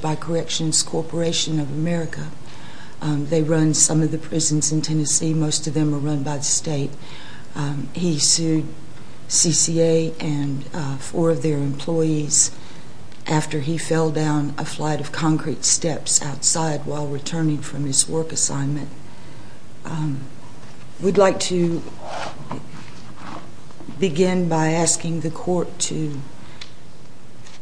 by Corrections Corporation of America. They run some of the prisons in Tennessee. Most of them are run by the state. He sued CCA and four of their employees after he fell down a flight of concrete steps outside while returning from his work assignment. We'd like to begin by asking the court to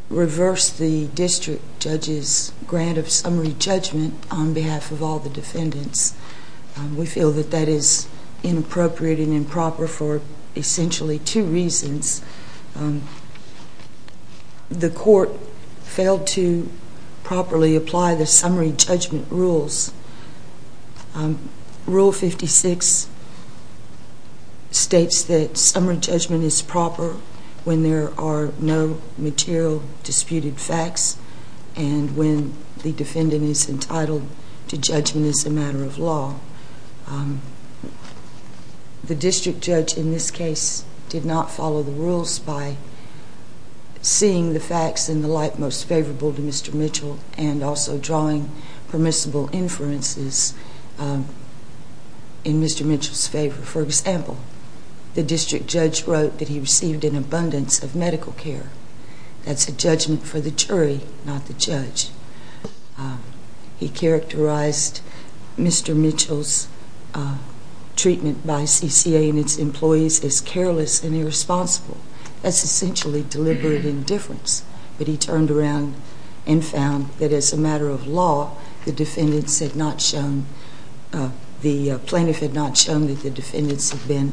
reverse the district to a new district. I'm going to start by saying that the court has not approved the judge's grant of summary judgment on behalf of all the defendants. We feel that that is inappropriate and improper for essentially two reasons. The court failed to properly apply the summary judgment rules. Rule 56 states that summary judgment is proper when there are no material disputed facts and when the defendant is entitled to judgment as a matter of law. The district judge in this case did not follow the rules by seeing the facts in the light most favorable to Mr. Mitchell. For example, the district judge wrote that he received an abundance of medical care. That's a judgment for the jury, not the judge. He characterized Mr. Mitchell's treatment by CCA and its employees as careless and irresponsible. That's essentially deliberate indifference, but he turned around and found that as a matter of law, the plaintiff had not shown that the defendants had been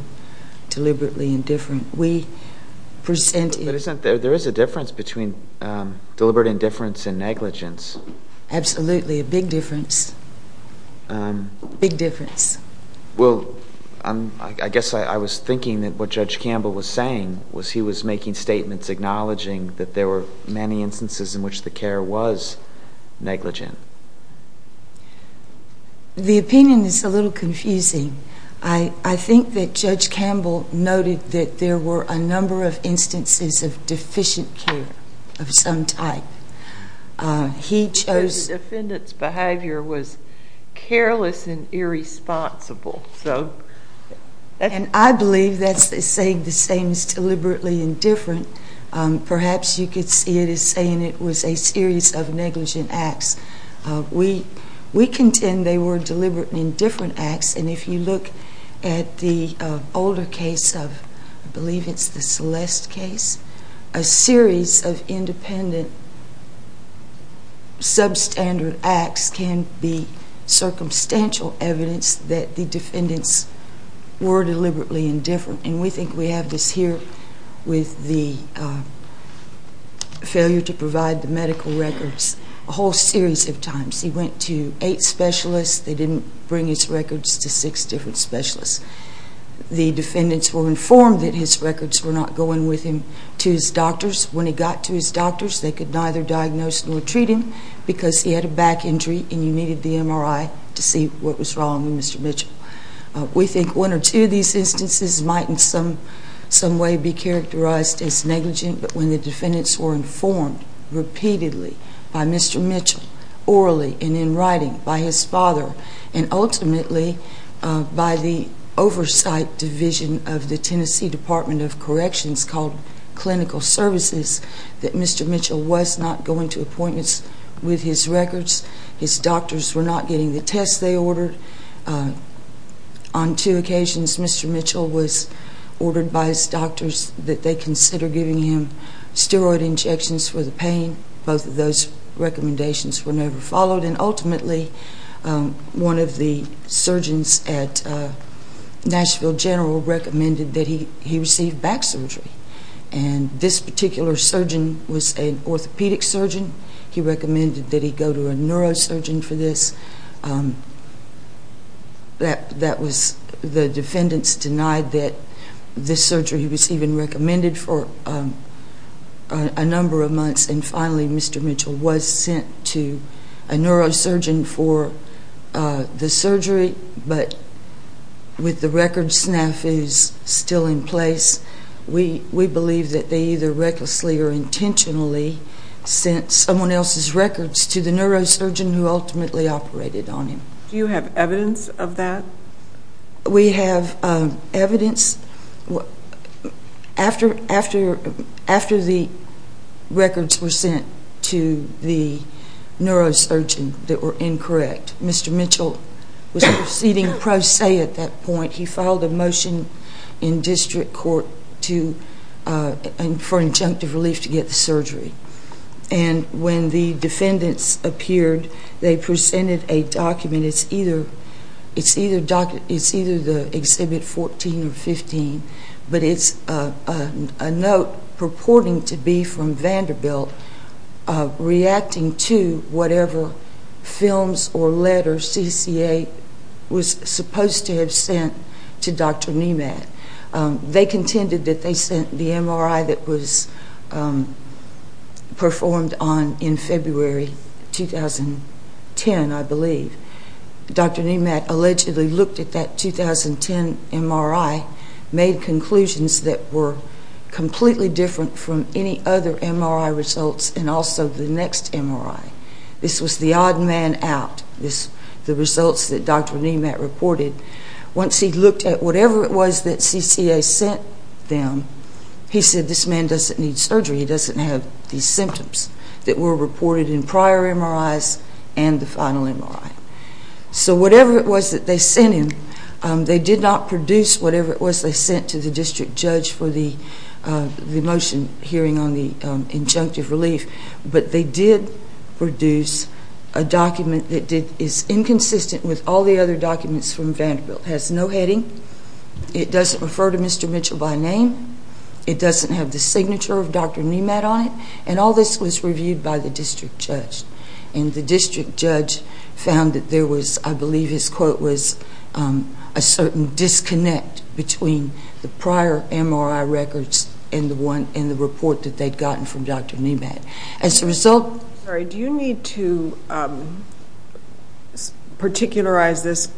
deliberately indifferent. But isn't there a difference between deliberate indifference and negligence? Absolutely, a big difference. Well, I guess I was thinking that what Judge Campbell was saying was he was making statements acknowledging that there were many instances in which the care was negligent. The opinion is a little confusing. I think that Judge Campbell noted that there were a number of instances of deficient care of some type. He chose The defendant's behavior was careless and irresponsible. And I believe that's saying the same as deliberately indifferent. Perhaps you could see it as saying it was a series of negligent acts. We contend they were deliberate and indifferent acts, and if you look at the older case of, I believe it's the Celeste case, a series of independent substandard acts can be circumstantial evidence that the defendants were deliberately indifferent. And we think we have this here with the failure to provide the medical records a whole series of times. He went to eight specialists. They didn't bring his records to six different specialists. The defendants were informed that his records were not going with him to his doctors. When he got to his doctors, they could neither diagnose nor treat him because he had a back injury and you needed the MRI to see what was wrong with Mr. Mitchell. We think one or two of these instances might in some way be characterized as negligent, but when the defendants were informed repeatedly by Mr. Mitchell, orally and in writing by his father, and ultimately by the oversight division of the Tennessee Department of Corrections called Clinical Services, that Mr. Mitchell was not going to appointments with his records. His doctors were not getting the tests they ordered. On two occasions, Mr. Mitchell was ordered by his doctors that they consider giving him steroid injections for the pain. Both of those recommendations were never followed, and ultimately one of the surgeons at Nashville General recommended that he receive back surgery. This particular surgeon was an orthopedic surgeon. He recommended that he go to a neurosurgeon for this. The defendants denied that this surgery was even recommended for a number of months, and finally Mr. Mitchell was sent to a neurosurgeon for the surgery, but with the record snafus still in place, we believe that they either recklessly or intentionally sent someone else's records to the neurosurgeon who ultimately operated on him. Do you have evidence of that? We have evidence. After the records were sent to the neurosurgeon, we believe that they were incorrect. Mr. Mitchell was proceeding pro se at that point. He filed a motion in district court for injunctive relief to get the surgery. When the defendants appeared, they presented a document. It's either the Exhibit 14 or 15, but it's a note purporting to be from Vanderbilt reacting to whatever films or letters CCA was supposed to have sent to Dr. Nemat. They contended that they sent the MRI that was performed on in February 2010, I believe. Dr. Nemat allegedly looked at that 2010 MRI, made conclusions that were completely different from any other MRI results and also the next MRI. This was the odd man out, the results that Dr. Nemat reported. Once he looked at whatever it was that CCA sent them, he said this man doesn't need surgery. He doesn't have these symptoms that were reported in prior MRIs and the final MRI. So whatever it was that they sent him, they did not produce whatever it was they sent to the district judge for the motion hearing on the injunctive relief. But they did produce a document that is inconsistent with all the other documents from Vanderbilt. It has no heading. It doesn't refer to Mr. Mitchell by name. It doesn't have the signature of Dr. Nemat on it. And all this was reviewed by the district judge. And the district judge found that there was, I believe his quote was, a certain disconnect between the prior MRI records and the report that they had gotten from Dr. Nemat. Do you need to particularize this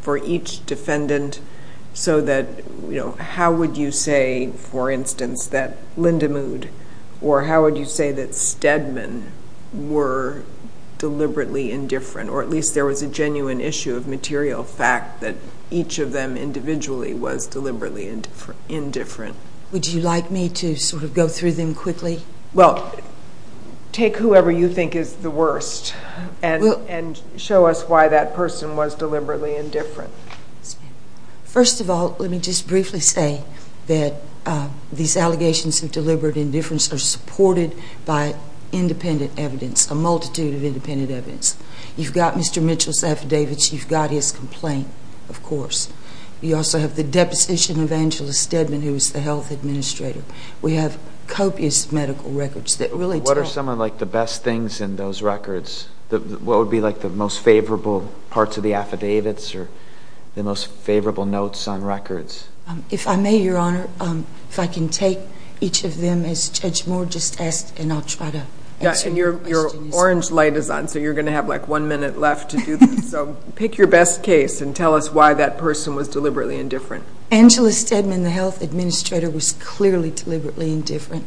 for each defendant so that how would you say, for instance, that Lindemood or how would you say that Stedman were deliberately indifferent? Or at least there was a genuine issue of material fact that each of them individually was deliberately indifferent? Would you like me to sort of go through them quickly? Well, take whoever you think is the worst and show us why that person was deliberately indifferent. First of all, let me just briefly say that these allegations of deliberate indifference are supported by independent evidence, a multitude of independent evidence. You've got Mr. Mitchell's affidavits. You've got his complaint, of course. You also have the deposition of Angela Stedman, who is the health administrator. We have copious medical records that really tell. What are some of like the best things in those records? What would be like the most favorable parts of the affidavits or the most favorable notes on records? If I may, Your Honor, if I can take each of them as Judge Moore just asked and I'll try to answer your questions. Your orange light is on, so you're going to have like one minute left to do this. So pick your best case and tell us why that person was deliberately indifferent. Angela Stedman, the health administrator, was clearly deliberately indifferent.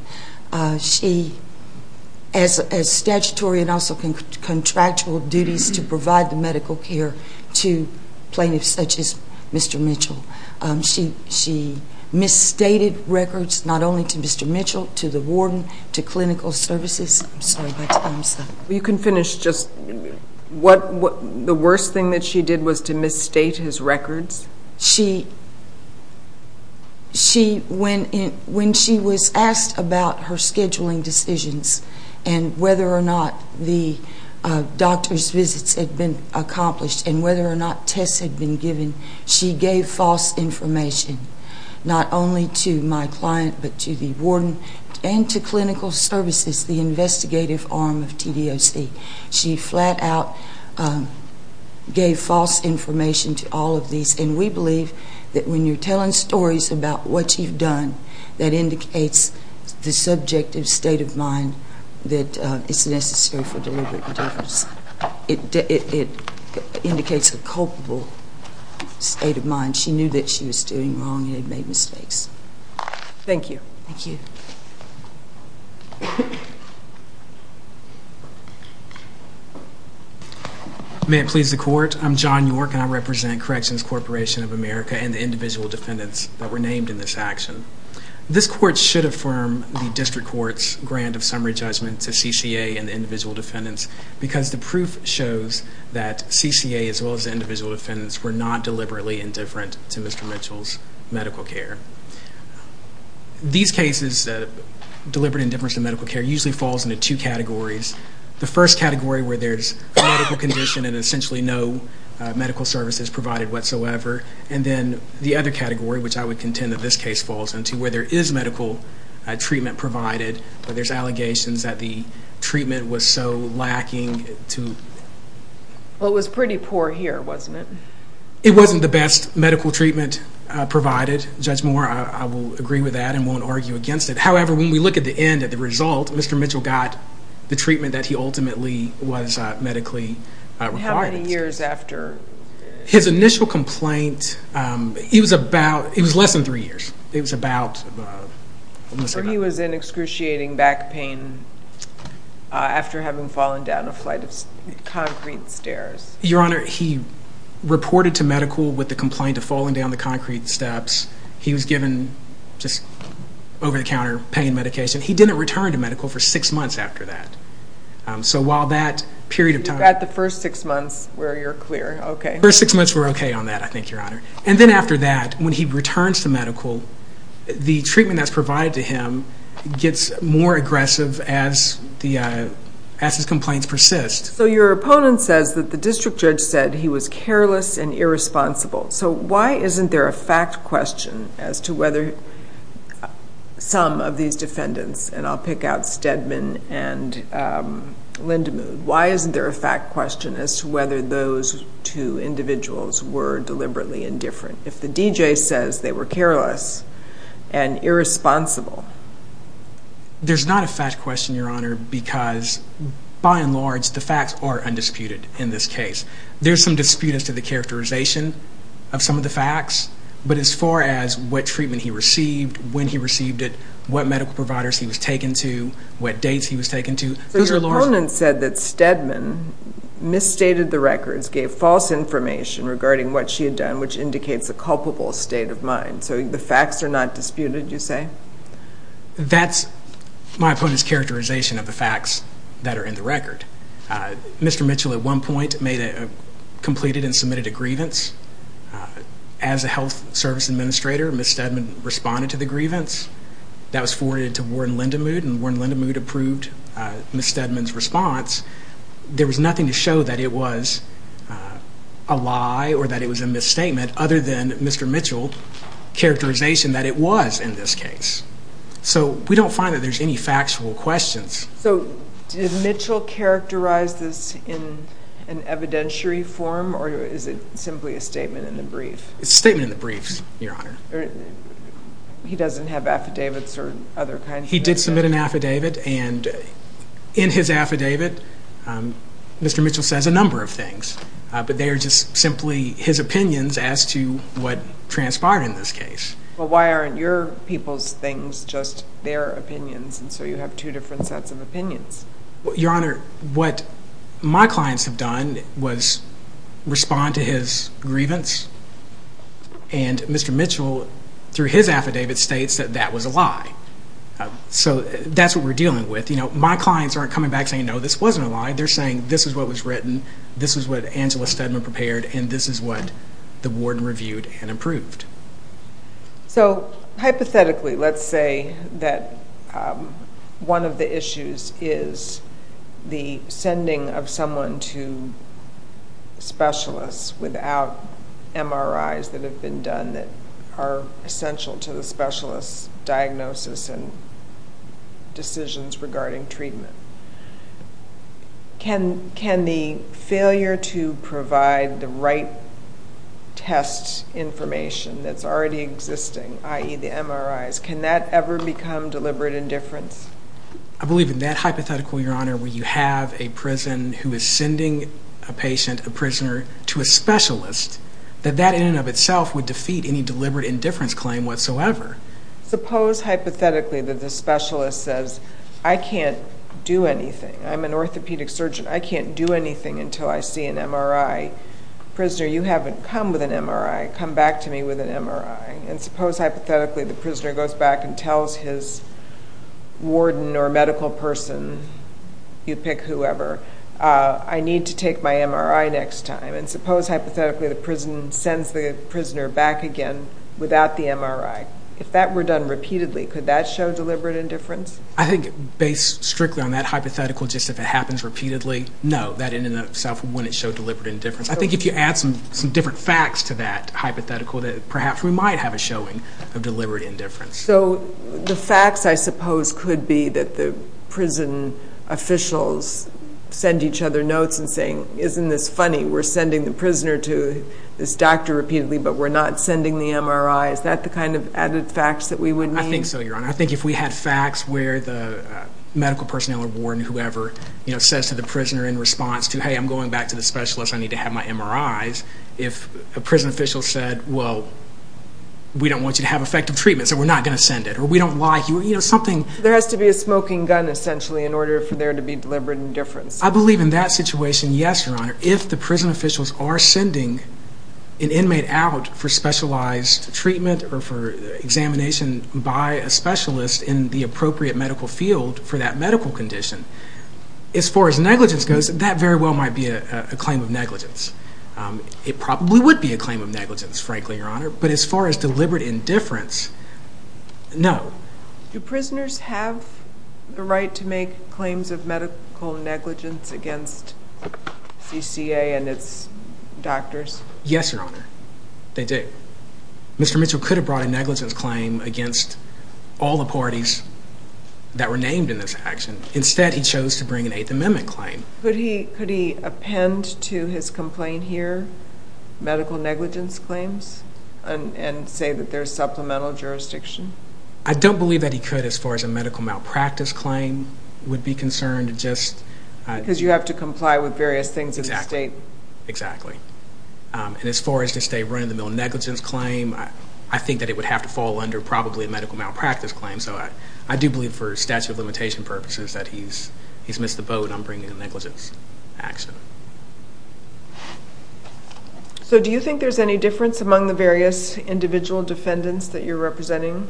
As statutory and also contractual duties to provide the medical care to plaintiffs such as Mr. Mitchell. She misstated records not only to Mr. Mitchell, to the warden, to clinical services. I'm sorry about that. You can finish just what the worst thing that she did was to misstate his records. When she was asked about her scheduling decisions and whether or not the doctor's visits had been accomplished and whether or not tests had been given, she gave false information not only to my client but to the warden and to clinical services, the investigative arm of TDOC. She flat out gave false information to all of these. And we believe that when you're telling stories about what you've done, that indicates the subjective state of mind that it's necessary for deliberate indifference. It indicates a culpable state of mind. She knew that she was doing wrong and had made mistakes. May it please the court, I'm John York and I represent Corrections Corporation of America and the individual defendants that were named in this action. This court should affirm the district court's grant of summary judgment to CCA and the individual defendants because the proof shows that CCA as well as the individual defendants were not deliberately indifferent to Mr. Mitchell's medical care. These cases, deliberate indifference to medical care, usually falls into two categories. The first category where there's a medical condition and essentially no medical services provided whatsoever and then the other category which I would contend that this case falls into where there is medical treatment provided but there's allegations that the treatment was so lacking to... Well it was pretty poor here, wasn't it? It wasn't the best medical treatment provided. Judge Moore, I will agree with that and won't argue against it. However, when we look at the end, at the result, Mr. Mitchell got the treatment that he ultimately was medically required. How many years after? His initial complaint, it was less than three years. He was in excruciating back pain after having fallen down a flight of concrete stairs. Your Honor, he reported to medical with the complaint of falling down the concrete steps. He was given just over-the-counter pain medication. He didn't return to medical for six months after that. So while that period of time... You've got the first six months where you're clear, okay. First six months we're okay on that, I think, Your Honor. And then after that, when he returns to medical, the treatment that's provided to him gets more aggressive as his complaints persist. So your opponent says that the district judge said he was careless and irresponsible. So why isn't there a fact question as to whether some of these defendants, and I'll pick out Stedman and Lindemood, why isn't there a fact question as to whether those two individuals were deliberately indifferent? If the DJ says they were careless and irresponsible... The facts are undisputed in this case. There's some dispute as to the characterization of some of the facts, but as far as what treatment he received, when he received it, what medical providers he was taken to, what dates he was taken to... So your opponent said that Stedman misstated the records, gave false information regarding what she had done, which indicates a culpable state of mind. So the facts are not disputed, you say? That's my opponent's characterization of the facts that are in the record. Mr. Mitchell at one point completed and submitted a grievance. As a health service administrator, Ms. Stedman responded to the grievance. That was forwarded to Warden Lindemood, and Warden Lindemood approved Ms. Stedman's response. There was nothing to show that it was a lie or that there was more than Mr. Mitchell's characterization that it was in this case. So we don't find that there's any factual questions. So did Mitchell characterize this in an evidentiary form, or is it simply a statement in the brief? It's a statement in the brief, Your Honor. He doesn't have affidavits or other kinds of... He did submit an affidavit, and in his affidavit, Mr. Mitchell says a number of things, but they are just simply his opinions as to what transpired in this case. Well, why aren't your people's things just their opinions, and so you have two different sets of opinions? Your Honor, what my clients have done was respond to his grievance, and Mr. Mitchell through his affidavit states that that was a lie. So that's what we're dealing with. My clients aren't coming back saying, no, this wasn't a lie. They're saying this is what was written, this is what Angela Steadman prepared, and this is what the warden reviewed and approved. So hypothetically, let's say that one of the issues is the sending of someone to specialists without MRIs that have been done that are essential to the specialist's diagnosis and regarding treatment. Can the failure to provide the right test information that's already existing, i.e., the MRIs, can that ever become deliberate indifference? I believe in that hypothetical, Your Honor, where you have a prison who is sending a patient, a prisoner, to a specialist, that that in and of itself would defeat any deliberate indifference claim whatsoever. Suppose hypothetically that the specialist says, I can't do anything. I'm an orthopedic surgeon. I can't do anything until I see an MRI. Prisoner, you haven't come with an MRI. Come back to me with an MRI. And suppose hypothetically the prisoner goes back and tells his warden or medical person, you pick whoever, I need to take my MRI next time. And suppose hypothetically the prison sends the prisoner back again without the MRI. If that were done repeatedly, could that show deliberate indifference? I think based strictly on that hypothetical, just if it happens repeatedly, no, that in and of itself wouldn't show deliberate indifference. I think if you add some different facts to that hypothetical, that perhaps we might have a showing of deliberate indifference. So the facts, I suppose, could be that the prison officials send each other notes and say, isn't this funny? We're sending the prisoner to this doctor repeatedly, but we're not sending the MRI. Is that the kind of added facts that we would need? I think so, Your Honor. I think if we had facts where the medical personnel or warden, whoever, says to the prisoner in response to, hey, I'm going back to the specialist. I need to have my MRIs. If a prison official said, well, we don't want you to have effective treatment, so we're not going to send it. Or we don't like you. You know, something. There has to be a smoking gun, essentially, in order for there to be deliberate indifference. I believe in that situation, yes, Your Honor. If the prison officials are sending an inmate out for specialized treatment or for examination by a specialist in the appropriate medical field for that medical condition, as far as negligence goes, that very well might be a claim of negligence. It probably would be a claim of negligence, frankly, Your Honor. But as far as deliberate indifference, no. Do prisoners have the right to make claims of medical negligence against CCA and its doctors? Yes, Your Honor. They do. Mr. Mitchell could have brought a negligence claim against all the parties that were named in this action. Instead, he chose to bring an Eighth Amendment claim. Could he append to his complaint here medical negligence claims and say that there's supplemental jurisdiction? I don't believe that he could, as far as a medical malpractice claim would be concerned. Because you have to comply with various things in the state. Exactly. And as far as the state run-of-the-mill negligence claim, I think that it would have to fall under probably a medical malpractice claim. So I do believe for statute of limitation purposes that he's missed the boat on bringing a negligence action. So do you think there's any difference among the various individual defendants that you're representing?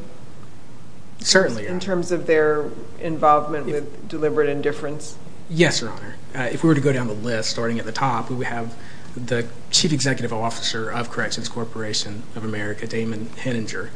Certainly. In terms of their involvement with deliberate indifference? Yes, Your Honor. If we were to go down the list, starting at the top, we would have the Chief Executive Officer of Corrections Corporation of America, Damon Henninger.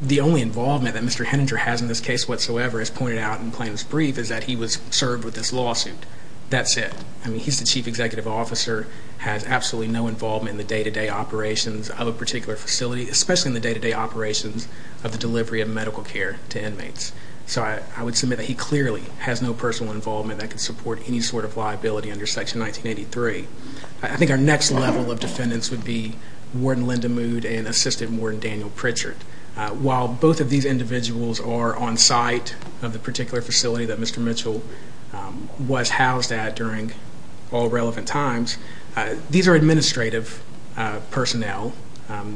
The only involvement that Mr. Henninger has in this case whatsoever, as pointed out in plaintiff's brief, is that he was served with this lawsuit. That's it. I mean, he's the Chief Executive Officer, has absolutely no involvement in the day-to-day operations of a particular facility, especially in the day-to-day operations of the delivery of medical care to inmates. So I would submit that he clearly has no personal involvement that could support any sort of liability under Section 1983. I think our next level of defendants would be Warden Linda Mood and Assistant Warden Daniel Pritchard. While both of these individuals are on site of the particular facility that Mr. Mitchell was housed at during all relevant times, these are administrative personnel.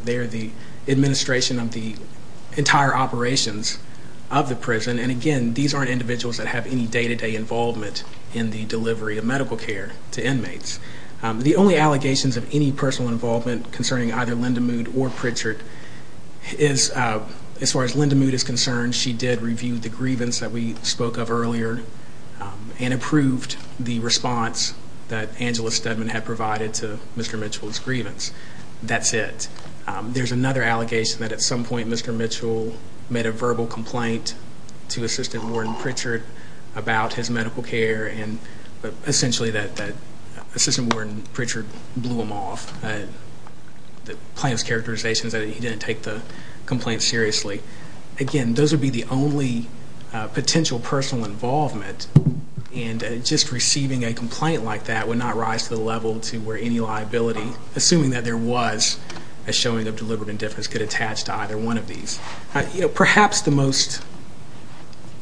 They are the administration of the entire operations of the prison. And again, these aren't individuals that have any day-to-day involvement in the delivery of medical care to inmates. The only allegations of any personal involvement concerning either Linda Mood or Pritchard is, as far as Linda Mood is concerned, she did review the grievance that we spoke of earlier and approved the response that Angela Steadman had provided to Mr. Mitchell's that there's another allegation that at some point Mr. Mitchell made a verbal complaint to Assistant Warden Pritchard about his medical care and essentially that Assistant Warden Pritchard blew him off. The plaintiff's characterization is that he didn't take the complaint seriously. Again, those would be the only potential personal involvement and just receiving a complaint like that would not rise to the level to where any liability, assuming that there was a showing of deliberate indifference, could attach to either one of these. Perhaps the most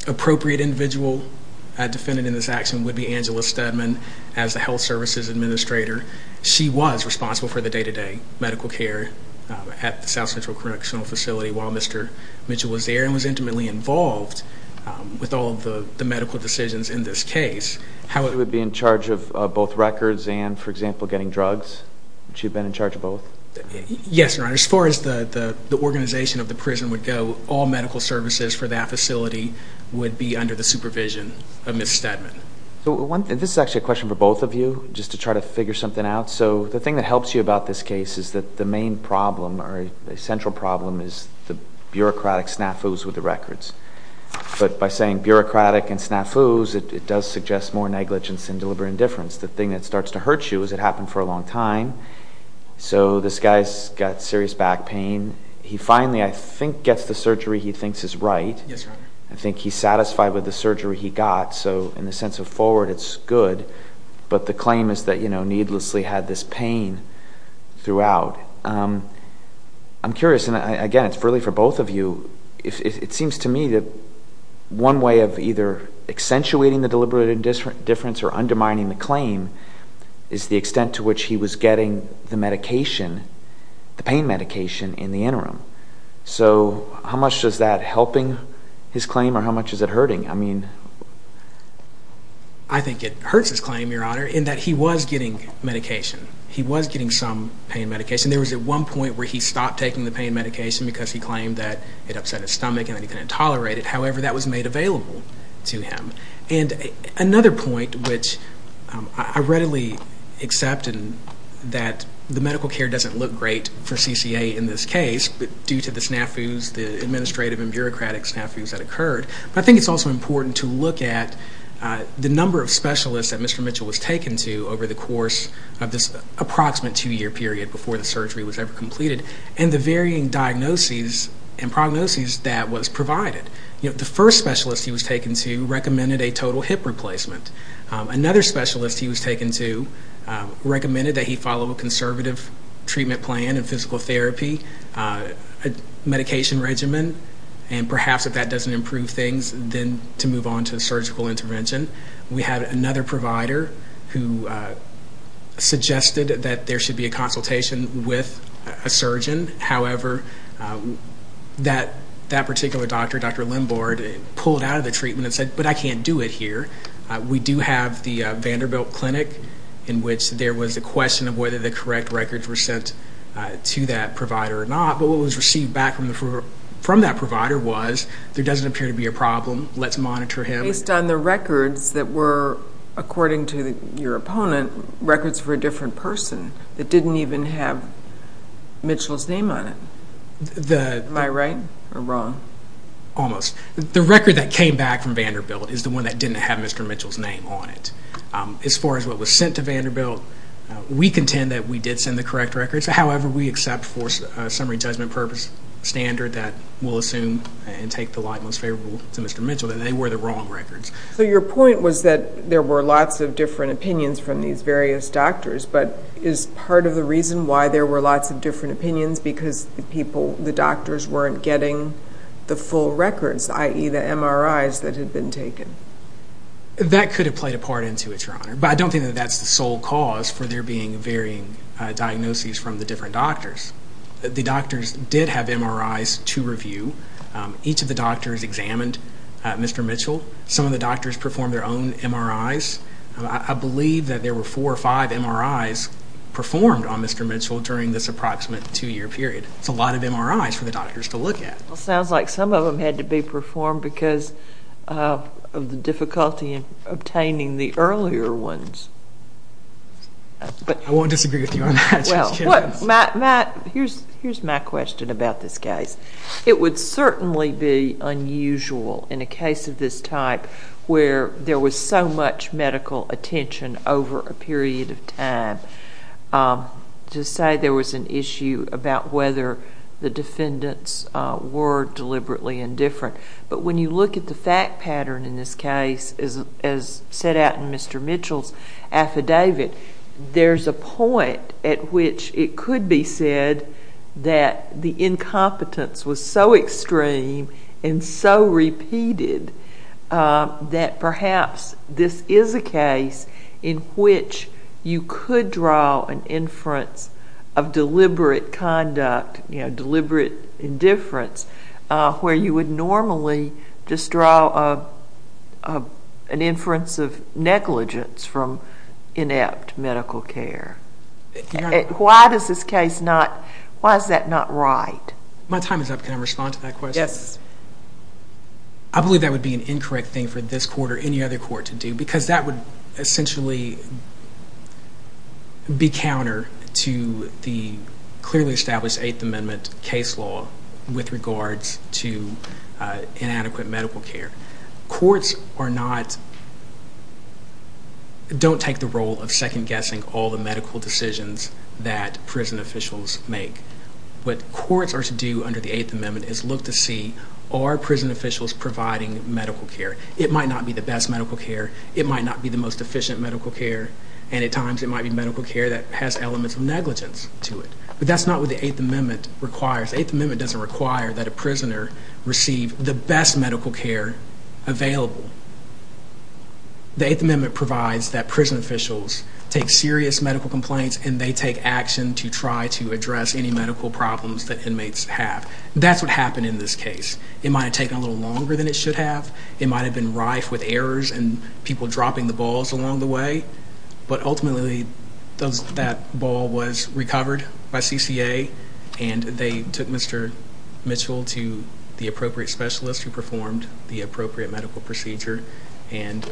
appropriate individual defended in this action would be Angela Steadman as the Health Services Administrator. She was responsible for the day-to-day medical care at the South Central Correctional Facility while Mr. Mitchell was there and was intimately involved with all of the medical decisions in this case. She would be in charge of both records and, for example, getting drugs? She'd been in charge of both? Yes, Your Honor. As far as the organization of the prison would go, all medical services for that facility would be under the supervision of Ms. Steadman. This is actually a question for both of you, just to try to figure something out. The thing that helps you about this case is that the main problem or the central problem is the bureaucratic and snafus. It does suggest more negligence than deliberate indifference. The thing that starts to hurt you is it happened for a long time, so this guy's got serious back pain. He finally, I think, gets the surgery he thinks is right. Yes, Your Honor. I think he's satisfied with the surgery he got, so in the sense of forward, it's good, but the claim is that needlessly had this pain throughout. I'm curious, and again, it's to me that one way of either accentuating the deliberate indifference or undermining the claim is the extent to which he was getting the pain medication in the interim. How much does that help his claim, or how much is it hurting? I think it hurts his claim, Your Honor, in that he was getting medication. He was getting some pain medication. There was at one point where he stopped taking the pain medication because he claimed that it upset his stomach and that he couldn't tolerate it. However, that was made available to him. Another point, which I readily accept that the medical care doesn't look great for CCA in this case, but due to the snafus, the administrative and bureaucratic snafus that occurred. I think it's also important to look at the number of specialists that Mr. Mitchell was taken to over the course of this approximate two-year period before the surgery was ever completed and the varying diagnoses and prognoses that was provided. The first specialist he was taken to recommended a total hip replacement. Another specialist he was taken to recommended that he follow a conservative treatment plan and physical therapy, a medication regimen, and perhaps if that doesn't improve things, then to move on to a surgical intervention. We had another provider who suggested that there should be a consultation with a surgeon. However, that particular doctor, Dr. Limbord, pulled out of the treatment and said, but I can't do it here. We do have the Vanderbilt Clinic in which there was a question of whether the correct records were sent to that provider or not, but what was received back from that provider was, there doesn't appear to be a problem. Let's monitor him. Based on the records that were, according to your opponent, records for a different person that didn't even have Mitchell's name on it. Am I right or wrong? Almost. The record that came back from Vanderbilt is the one that didn't have Mr. Mitchell's name on it. As far as what was sent to Vanderbilt, we contend that we did send the correct records. However, we accept for summary judgment purpose standard that we'll assume and take the light most favorable to Mr. Mitchell, that they were the wrong records. Your point was that there were lots of different opinions from these various doctors, but is part of the reason why there were lots of different opinions because the doctors weren't getting the full records, i.e. the MRIs that had been taken? That could have played a part into it, Your Honor, but I don't think that's the sole cause for there being varying diagnoses from the different doctors. The doctors did have MRIs to review. Each of the doctors examined Mr. Mitchell. Some of the doctors performed their own MRIs. I believe that there were four or five MRIs performed on Mr. Mitchell during this approximate two-year period. That's a lot of MRIs for the doctors to look at. Sounds like some of them had to be performed because of the difficulty in obtaining the earlier ones. I won't disagree with you on that, Judge It would certainly be unusual in a case of this type where there was so much medical attention over a period of time to say there was an issue about whether the defendants were deliberately indifferent. When you look at the fact pattern in this case, as set out in Mr. Mitchell's affidavit, there's a point at which it could be said that the incompetence was so extreme and so repeated that perhaps this is a case in which you could draw an inference of deliberate conduct, deliberate indifference, where you would normally just draw an inference of negligence from inept medical care. Why is that not right? My time is up. Can I respond to that question? Yes. I believe that would be an incorrect thing for this court or any other court to do because that would essentially be counter to the clearly established Eighth Amendment case law with regards to inadequate medical care. Courts don't take the role of second-guessing all the medical decisions that prison officials make. What courts are to do under the Eighth Amendment is look to see, are prison officials providing medical care? It might not be the best medical care. It might not be the most efficient medical care. And at times, it might be medical care that has elements of negligence to it. But that's not what the Eighth Amendment requires. The Eighth Amendment doesn't require that a prisoner receive the best medical care available. The Eighth Amendment provides that prison officials take serious medical complaints and they take action to try to address any medical problems that inmates have. That's what happened in this case. It might have taken a little longer than it should have. It might have been rife with errors and people dropping the balls along the way. But ultimately, that ball was recovered by CCA and they took Mr. Mitchell to the appropriate specialist who performed the appropriate medical procedure. And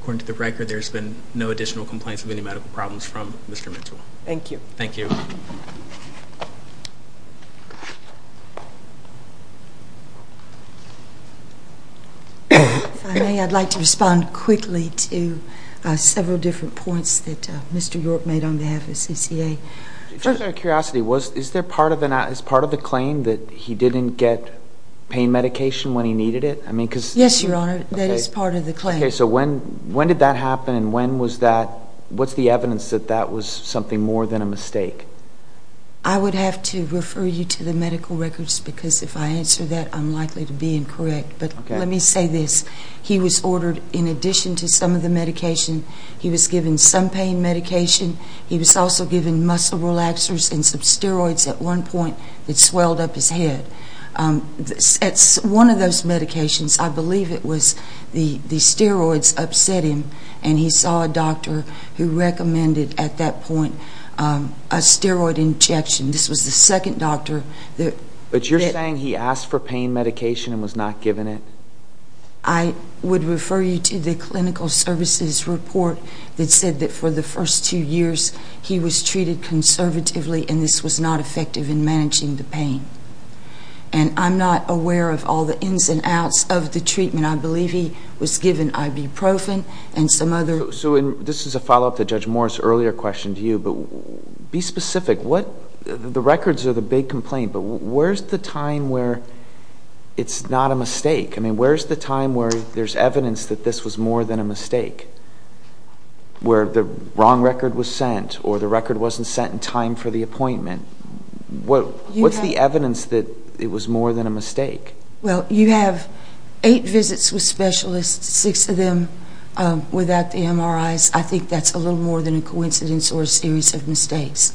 according to the record, there's been no additional complaints of any medical problems from Mr. Mitchell. Thank you. Thank you. If I may, I'd like to respond quickly to several different points that Mr. York made on behalf of CCA. Just out of curiosity, is there part of the claim that he didn't get pain medication when he needed it? Yes, Your Honor. That is part of the claim. When did that happen and what's the evidence that that was something more than a mistake? I would have to refer you to the medical records because if I answer that, I'm likely to be incorrect. But let me say this. He was ordered, in addition to some of the medication, he was also given muscle relaxers and some steroids at one point that swelled up his head. One of those medications, I believe it was the steroids, upset him and he saw a doctor who recommended at that point a steroid injection. This was the second doctor that But you're saying he asked for pain medication and was not given it? I would refer you to the clinical services report that said that for the first two years he was treated conservatively and this was not effective in managing the pain. I'm not aware of all the ins and outs of the treatment. I believe he was given ibuprofen and some other This is a follow-up to Judge Morris' earlier question to you, but be specific. The records are the big complaint, but where's the time where it's not a mistake? Where's the time where there's evidence that this was more than a mistake? Where the wrong record was sent or the record wasn't sent in time for the appointment? What's the evidence that it was more than a mistake? You have eight visits with specialists, six of them without the MRIs. I think that's a little more than a coincidence or a series of mistakes,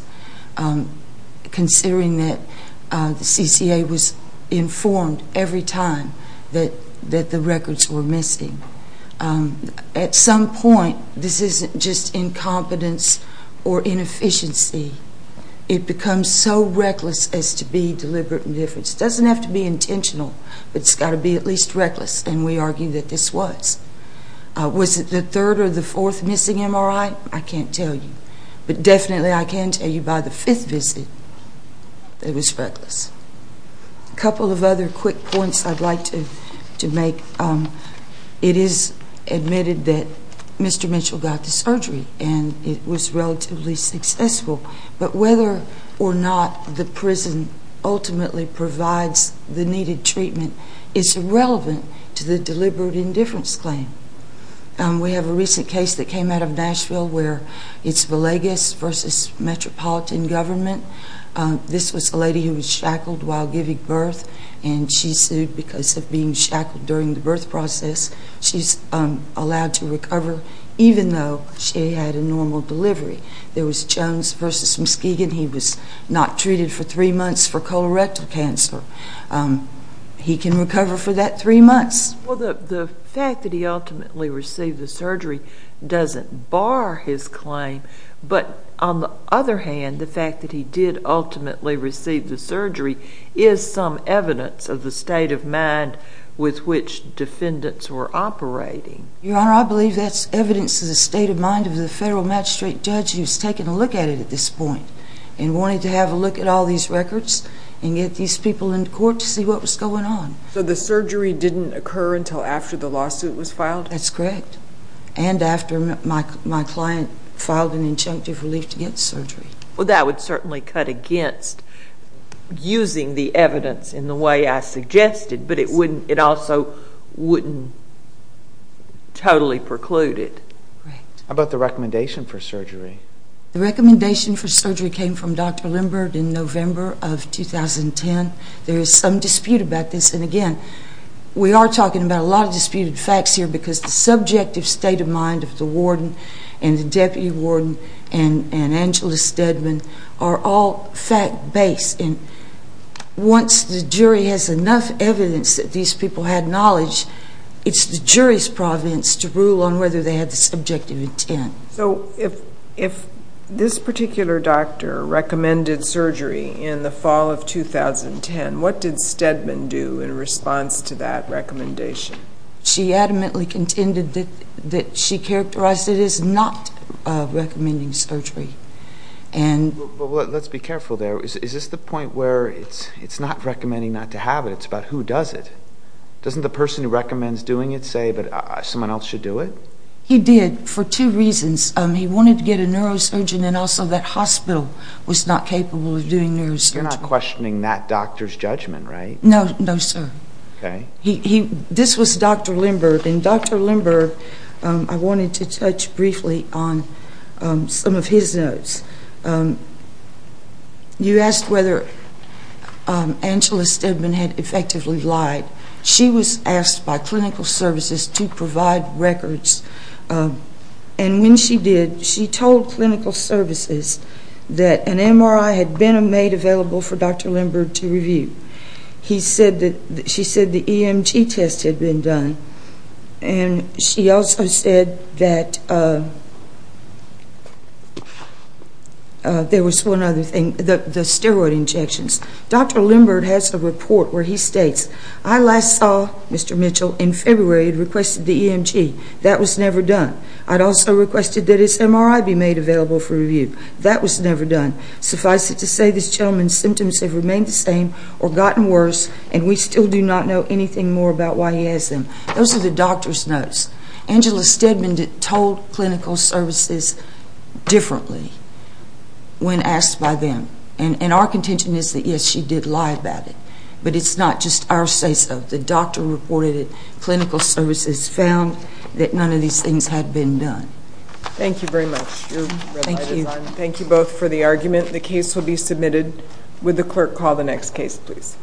considering that the CCA was informed every time that the records were missing. At some point, this isn't just incompetence or inefficiency. It becomes so reckless as to be deliberate indifference. It doesn't have to be intentional, but it's got to be at least reckless, and we argue that this was. Was it the third or the fourth missing MRI? I can't tell you, but definitely I can tell you by the fifth visit that it was reckless. A couple of other quick points I'd like to make. It is admitted that Mr. Mitchell got the surgery and it was relatively successful, but whether or not the prison ultimately provides the needed treatment is irrelevant to the deliberate indifference claim. We have a recent case that came out of Nashville where it's Villegas v. Metropolitan Government. This was a lady who was shackled while giving birth, and she sued because of being shackled during the birth process. She's allowed to recover even though she had a normal delivery. There was Jones v. Muskegon. He was not treated for three months for colorectal cancer. He can recover for that three months. The fact that he ultimately received the surgery doesn't bar his claim, but on the other hand, the fact that he did ultimately receive the surgery is some evidence of the state of mind with which defendants were operating. Your Honor, I believe that's evidence of the state of mind of the federal magistrate judge who's taken a look at it at this point and wanted to have a look at all these records and get these people in court to see what was going on. So the surgery didn't occur until after the lawsuit was filed? That's correct. And after my client filed an injunctive relief to get surgery. That would certainly cut against using the evidence in the way I suggested, but it also wouldn't totally preclude it. How about the recommendation for surgery? The recommendation for surgery came from Dr. Lindberg in November of 2010. There is some dispute about this, and again, we are talking about a lot of disputed facts here because the subjective state of mind of the warden and the deputy warden and Angela Steadman are all fact-based. And once the jury has enough evidence that these people had knowledge, it's the jury's province to rule on whether they had the subjective intent. So if this particular doctor recommended surgery in the fall of 2010, what did Steadman do in response to that recommendation? She adamantly contended that she characterized it as not recommending surgery. But let's be careful there. Is this the point where it's not recommending not to have it, it's about who does it? Doesn't the person who recommends doing it say that someone else should do it? He did for two reasons. He wanted to get a neurosurgeon and also that hospital was not capable of doing neurosurgery. You're not questioning that doctor's judgment, right? No, sir. This was Dr. Lindberg. And Dr. Lindberg, I wanted to touch briefly on some of his notes. You asked whether Angela Steadman had effectively lied. She was asked by clinical services to provide records. And when she did, she told clinical services that an MRI had been made available for Dr. Lindberg to review. She said the EMT test had been done. And she also said that there was one other thing, the steroid injections. Dr. Lindberg has a report where he states, I last saw Mr. Mitchell in February and requested the EMT. That was never done. I had also requested that his MRI be made available for review. That was never done. Suffice it to say, this gentleman's symptoms have remained the same or gotten worse and we still do not know anything more about why he has them. Those are the doctor's notes. Angela Steadman told clinical services differently when asked by them. And our contention is that, yes, she did lie about it. But it's not just our say so. The doctor reported that clinical services found that none of these things had been done. Thank you very much. Thank you both for the argument. The case will be submitted. Would the clerk call the next case, please?